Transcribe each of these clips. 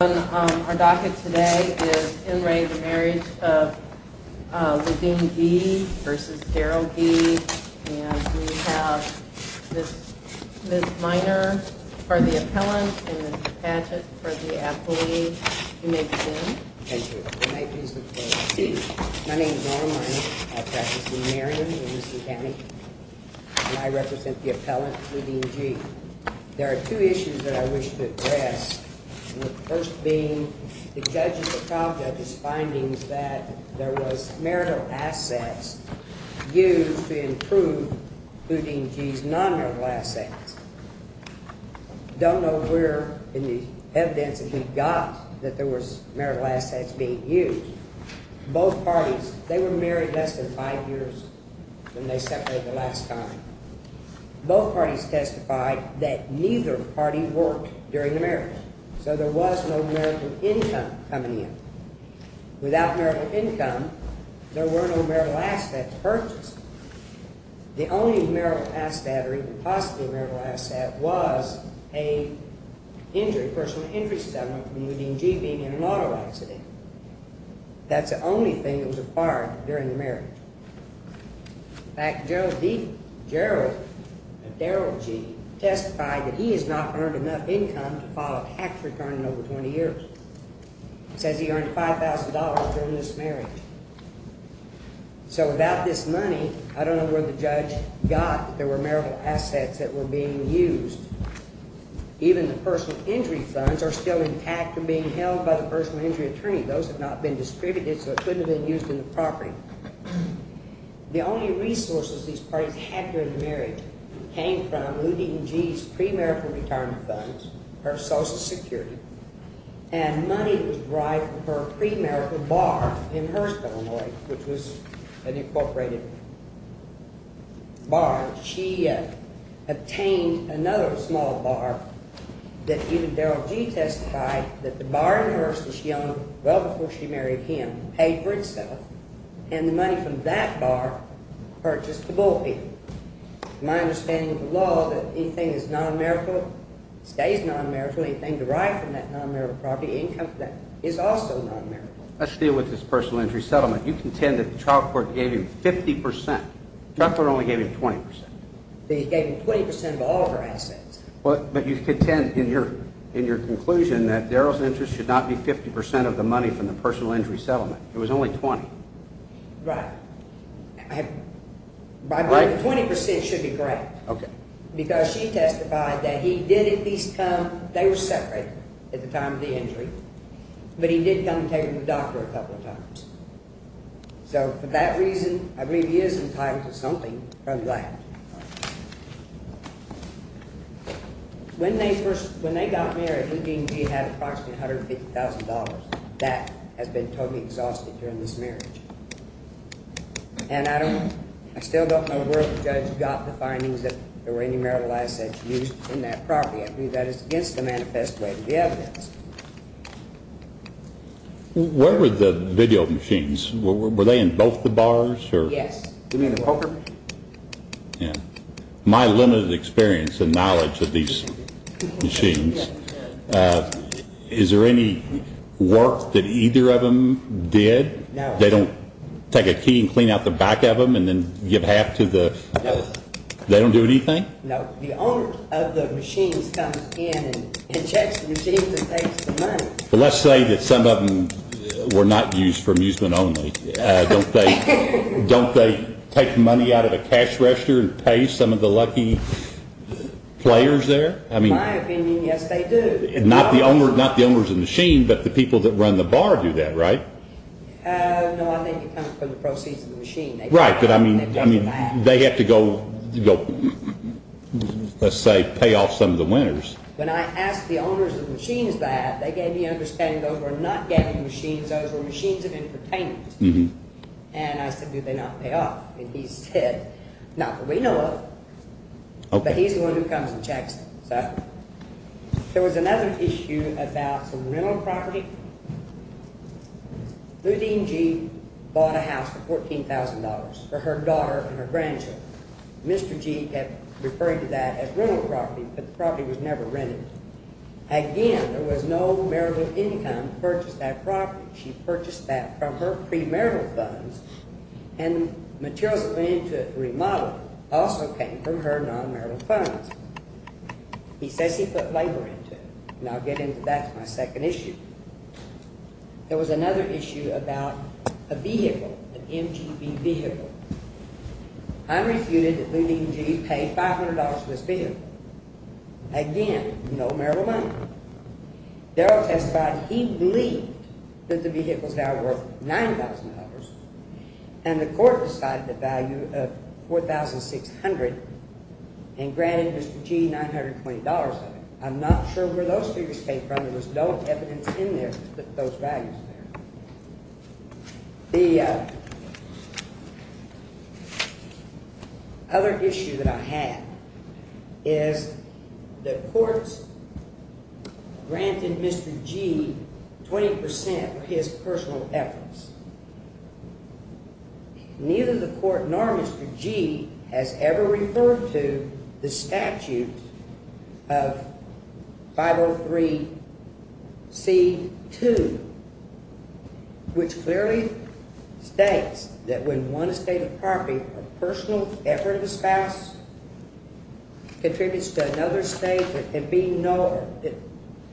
On our docket today is in re the marriage of LeDean Gee versus Darryl Gee and we have Ms. Miner for the appellant and Ms. Patchett for the affiliate. You may begin. Thank you. My name is Norm Miner. I practice in Marion in Houston County and I represent the appellant, LeDean Gee. There are two issues that I wish to address. The first being the judge's or trial judge's findings that there was marital assets used to improve LeDean Gee's non-marital assets. I don't know where in the evidence that we got that there was marital assets being used. Both parties, they were married less than five years when they separated the last time. Both parties testified that neither party worked during the marriage. So there was no marital income coming in. Without marital income, there were no marital assets purchased. The only marital asset or even possibly marital asset was a injury, personal injury, from LeDean Gee being in an auto accident. That's the only thing that was acquired during the marriage. In fact, Gerald Gee testified that he has not earned enough income to file a tax return in over 20 years. He says he earned $5,000 during this marriage. So without this money, I don't know where the judge got that there were marital assets that were being used. Even the personal injury funds are still intact and being held by the personal injury attorney. Those have not been distributed, so it couldn't have been used in the property. The only resources these parties had during the marriage came from LeDean Gee's pre-marital retirement funds, her Social Security, and money that was derived from her pre-marital bar in Hearst, Illinois, which was an incorporated bar. She obtained another small bar that even Gerald Gee testified that the bar in Hearst that she owned well before she married him paid for itself, and the money from that bar purchased the bullpen. My understanding of the law is that anything that is non-marital stays non-marital. Anything derived from that non-marital property income is also non-marital. Let's deal with this personal injury settlement. You contend that the trial court gave him 50%. Drucker only gave him 20%. They gave him 20% of all of her assets. But you contend in your conclusion that Daryl's interest should not be 50% of the money from the personal injury settlement. It was only 20%. Right. 20% should be correct. Okay. Because she testified that he did at least come, they were separated at the time of the injury, but he did come and take her to the doctor a couple of times. So for that reason, I believe he is entitled to something from that. When they first, when they got married, Eugene Gee had approximately $150,000. That has been totally exhausted during this marriage. And I don't, I still don't know where the judge got the findings that there were any marital assets used in that property. I believe that is against the manifest way of the evidence. Where were the video machines? Were they in both the bars? Yes. Yeah. My limited experience and knowledge of these machines. Is there any work that either of them did? No. They don't take a key and clean out the back of them and then give half to the, they don't do anything? No. The owner of the machines comes in and checks the machines and takes the money. Let's say that some of them were not used for amusement only. Don't they take money out of a cash register and pay some of the lucky players there? In my opinion, yes, they do. Not the owners of the machine, but the people that run the bar do that, right? No, I think it comes from the proceeds of the machine. Right, but I mean, they have to go, let's say, pay off some of the winners. When I asked the owners of the machines that, they gave me an understanding those were not gambling machines. Those were machines of entertainment. And I said, do they not pay off? And he said, not that we know of, but he's the one who comes and checks them. There was another issue about some rental property. Ludine Gee bought a house for $14,000 for her daughter and her grandchildren. Mr. Gee had referred to that as rental property, but the property was never rented. Again, there was no marital income to purchase that property. She purchased that from her premarital funds, and materials that went into it, remodeled, also came from her nonmarital funds. He says he put labor into it, and I'll get into that in my second issue. There was another issue about a vehicle, an MGB vehicle. I refuted that Ludine Gee paid $500 for this vehicle. Again, no marital money. Darryl testified he believed that the vehicle was now worth $9,000, and the court decided the value of $4,600 and granted Mr. Gee $920 of it. I'm not sure where those figures came from. The other issue that I have is that courts granted Mr. Gee 20% of his personal efforts. Neither the court nor Mr. Gee has ever referred to the statute of 503c2, which clearly states that when one estate of property, a personal effort of the spouse contributes to another estate, it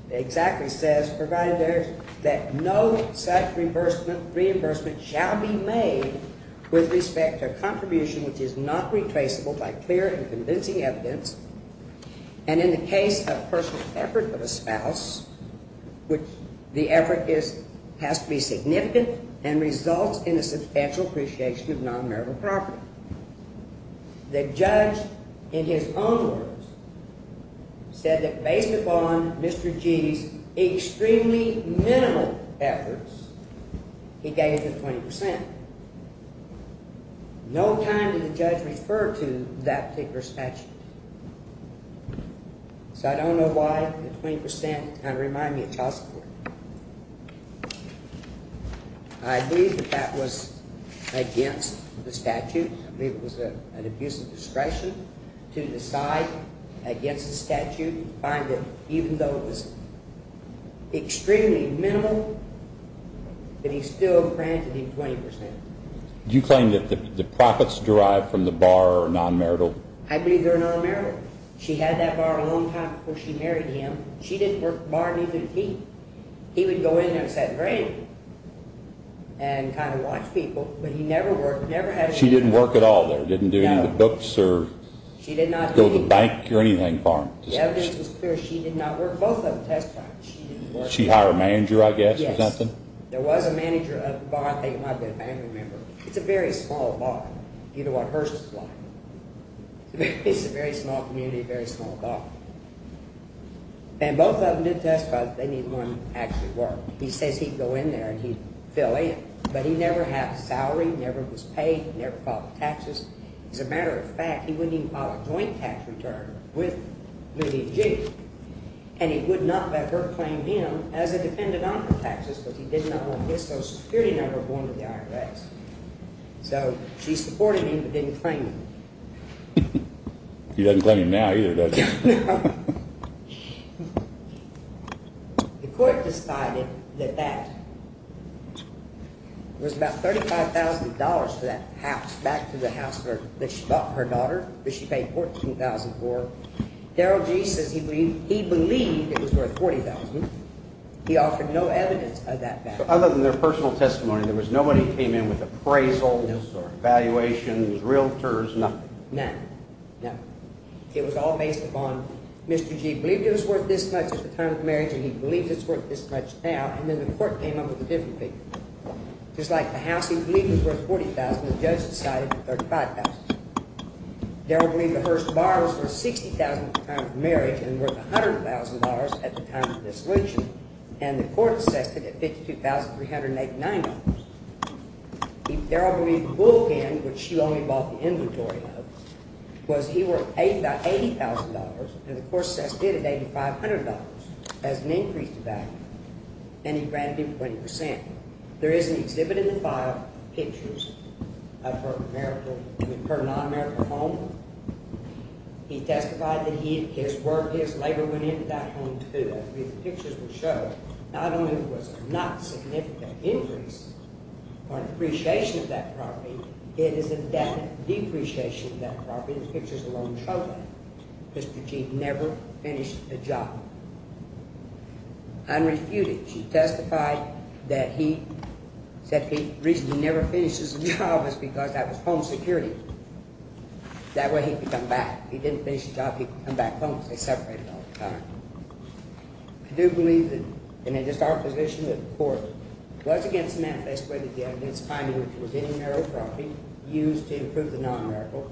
exactly says, provided that no such reimbursement shall be made with respect to a contribution which is not retraceable by clear and convincing evidence, and in the case of a personal effort of a spouse, the effort has to be significant and results in a substantial appreciation of nonmarital property. The judge, in his own words, said that based upon Mr. Gee's extremely minimal efforts, he gave him 20%. No time did the judge refer to that particular statute. So I don't know why the 20% kind of reminded me of child support. I believe that that was against the statute. I believe it was an abuse of discretion to decide against the statute and find that even though it was extremely minimal, that he still granted him 20%. I believe they're nonmarital. She had that bar a long time before she married him. She didn't work the bar, neither did he. He would go in there and set it free and kind of watch people, but he never worked, never had a job. She didn't work at all there? Didn't do any of the books or go to the bank or anything for him? The evidence was clear. She did not work. Both of them testified. She hired a manager, I guess, or something? Yes. There was a manager of the bar. I think it might have been a family member. It's a very small bar. You know what hers is like. It's a very small community, a very small bar. And both of them did testify. They didn't want him to actually work. He says he'd go in there and he'd fill in, but he never had a salary, never was paid, never filed taxes. As a matter of fact, he wouldn't even file a joint tax return with Lydia G. And he would not have ever claimed him as a defendant on her taxes, because he did not want to miss those security number of one of the IRS. So she supported him but didn't claim him. She doesn't claim him now either, does she? No. The court decided that that was about $35,000 for that house, back to the house that she bought for her daughter, which she paid $14,000 for. Darrell G. says he believed it was worth $40,000. He offered no evidence of that value. Other than their personal testimony, there was nobody who came in with appraisals or valuations, realtors, nothing? None. It was all based upon Mr. G. believed it was worth this much at the time of the marriage, and he believed it was worth this much now, and then the court came up with a different figure. Just like the house he believed was worth $40,000, the judge decided $35,000. Darrell believed the first bar was worth $60,000 at the time of the marriage and worth $100,000 at the time of the dissolution, and the court assessed it at $52,389. Darrell believed the bullpen, which she only bought the inventory of, was worth $80,000, and the court assessed it at $8,500 as an increased value, and he granted him 20%. There is an exhibit in the file of pictures of her non-marital home. He testified that his work, his labor went into that home, too. The pictures will show not only was it not a significant increase or an appreciation of that property, it is a definite depreciation of that property. The pictures alone show that. Mr. G. never finished a job. Unrefuted, she testified that he said the reason he never finished his job was because that was home security. That way he could come back. If he didn't finish the job, he could come back home because they separated all the time. I do believe that, and it is our position that the court was against the manifest way that the evidence finding which was any marital property used to improve the non-marital,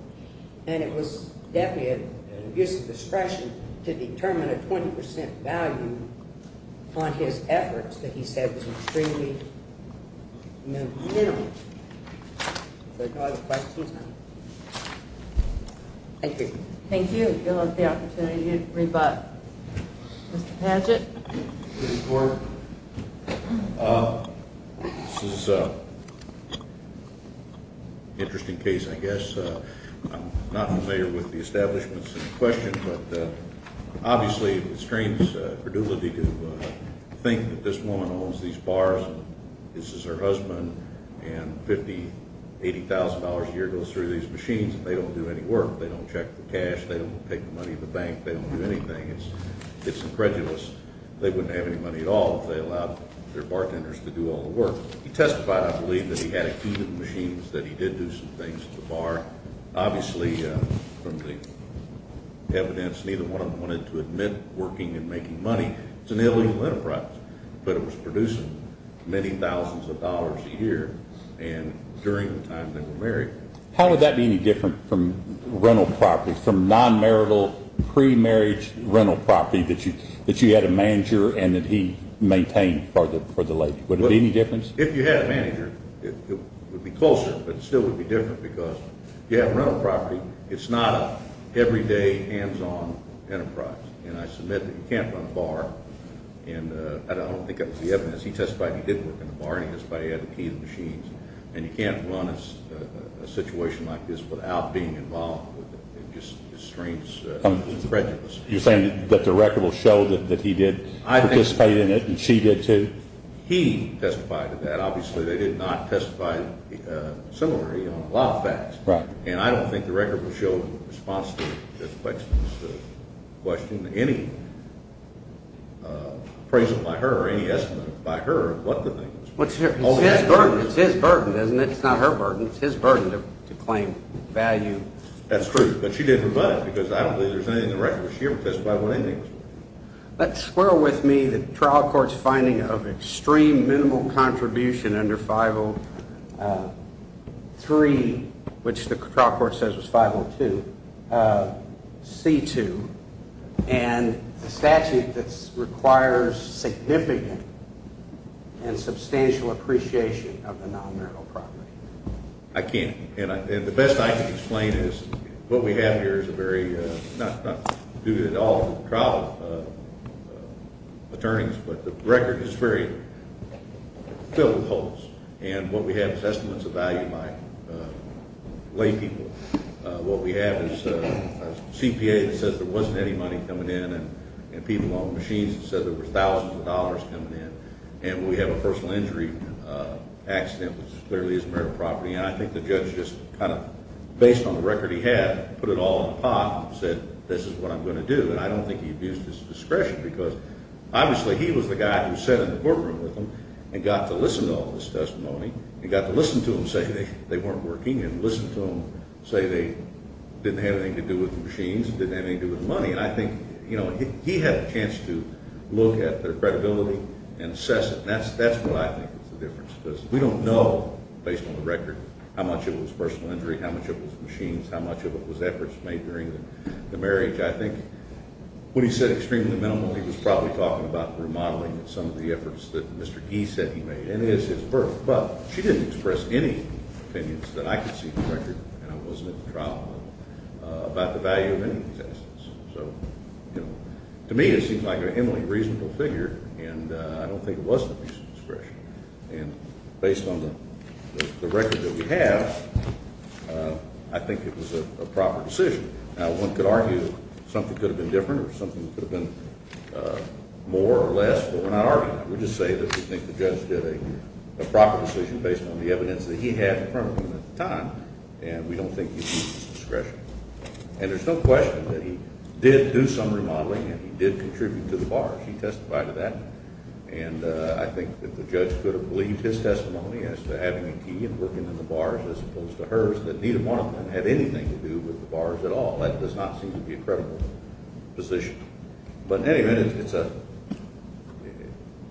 and it was definitely an abuse of discretion to determine a 20% value on his efforts that he said was extremely minimal. Thank you. Thank you. You'll have the opportunity to rebut. Mr. Padgett. This is an interesting case, I guess. I'm not familiar with the establishments in question, but obviously it restrains credulity to think that this woman owns these bars, and this is her husband, and $50,000, $80,000 a year goes through these machines, and they don't do any work. They don't check the cash. They don't take the money in the bank. They don't do anything. It's incredulous. They wouldn't have any money at all if they allowed their bartenders to do all the work. He testified, I believe, that he had a few of the machines, that he did do some things at the bar. Obviously, from the evidence, neither one of them wanted to admit working and making money. It's an illegal enterprise, but it was producing many thousands of dollars a year, and during the time they were married. How would that be any different from rental property, some non-marital pre-marriage rental property that you had a manager and that he maintained for the lady? Would it be any different? If you had a manager, it would be closer, but it still would be different, because if you have rental property, it's not an everyday, hands-on enterprise. And I submit that you can't run a bar, and I don't think it was the evidence. He testified he did work in a bar, and he testified he had a few of the machines. And you can't run a situation like this without being involved with it. It's just extremely incredulous. You're saying that the record will show that he did participate in it, and she did too? He testified to that. Obviously, they did not testify similarly on a lot of facts. Right. And I don't think the record will show in response to Ms. Plexman's question any appraisal by her or any estimate by her of what the thing is. It's his burden, isn't it? It's not her burden. It's his burden to claim value. That's true. But she did provide it, because I don't believe there's anything in the record. She never testified with anything. Let's square with me the trial court's finding of extreme minimal contribution under 503, which the trial court says was 502, C-2, and a statute that requires significant and substantial appreciation of the non-marital property. I can't. And the best I can explain is what we have here is a very, not due to all the trial attorneys, but the record is very filled with holes. And what we have is estimates of value by lay people. What we have is a CPA that says there wasn't any money coming in, and people on the machines that said there was thousands of dollars coming in. And we have a personal injury accident, which clearly is marital property. And I think the judge just kind of, based on the record he had, put it all in a pot and said, this is what I'm going to do. And I don't think he abused his discretion, because obviously he was the guy who sat in the courtroom with them and got to listen to all this testimony and got to listen to them say they weren't working and listen to them say they didn't have anything to do with the machines, didn't have anything to do with the money. And I think, you know, he had a chance to look at their credibility and assess it. And that's what I think was the difference, because we don't know, based on the record, how much of it was personal injury, how much of it was machines, how much of it was efforts made during the marriage. I think when he said extremely minimal, he was probably talking about the remodeling of some of the efforts that Mr. Gee said he made, and it is his birth. But she didn't express any opinions that I could see in the record, and I wasn't at the trial level, about the value of any of these assets. So, you know, to me it seems like an eminently reasonable figure, and I don't think it was an abuse of discretion. And based on the record that we have, I think it was a proper decision. Now, one could argue something could have been different or something could have been more or less, but we're not arguing. We're just saying that we think the judge did a proper decision based on the evidence that he had in front of him at the time, and we don't think he abused his discretion. And there's no question that he did do some remodeling and he did contribute to the bars. He testified to that. And I think that the judge could have believed his testimony as to having a key and working in the bars as opposed to hers, but neither one of them had anything to do with the bars at all. That does not seem to be a credible position. But in any event, it's an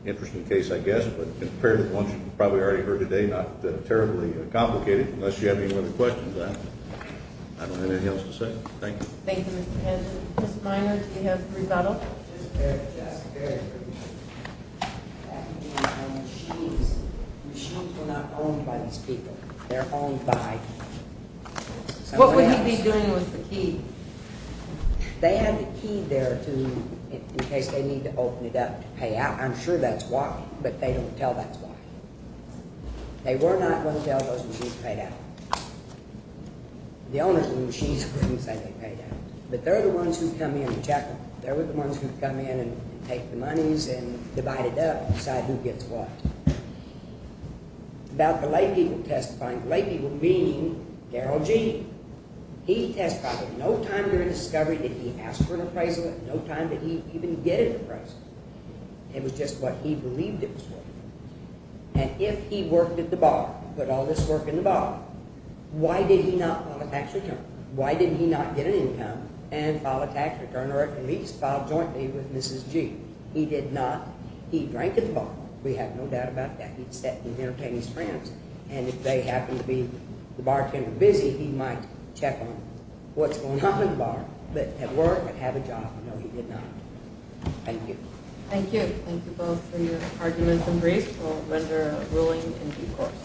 interesting case, I guess, but compared to the ones you've probably already heard today, not terribly complicated, unless you have any other questions. I don't have anything else to say. Thank you. Thank you, Mr. Pendleton. Mr. Miner, do you have a rebuttal? Yes, very briefly. That would be on the machines. Machines were not owned by these people. They're owned by someone else. What would he be doing with the key? They had the key there in case they need to open it up to pay out. I'm sure that's why, but they don't tell that's why. They were not going to tell those machines paid out. The owners of the machines were going to say they paid out. But they're the ones who come in and check them. They're the ones who come in and take the monies and divide it up and decide who gets what. About the late people testifying, the late people meaning Darrell Gee. He testified that no time during the discovery did he ask for an appraisal, no time did he even get an appraisal. It was just what he believed it was worth. And if he worked at the bar, put all this work in the bar, why did he not file a tax return? Why did he not get an income and file a tax return or at least file jointly with Mrs. Gee? He did not. He drank at the bar. We have no doubt about that. He'd sit and entertain his friends. And if they happened to be, the bartender, busy, he might check on them. What's going on in the bar, but at work and have a job. No, he did not. Thank you. Thank you. Thank you both for your arguments and briefs. We'll render a ruling in due course.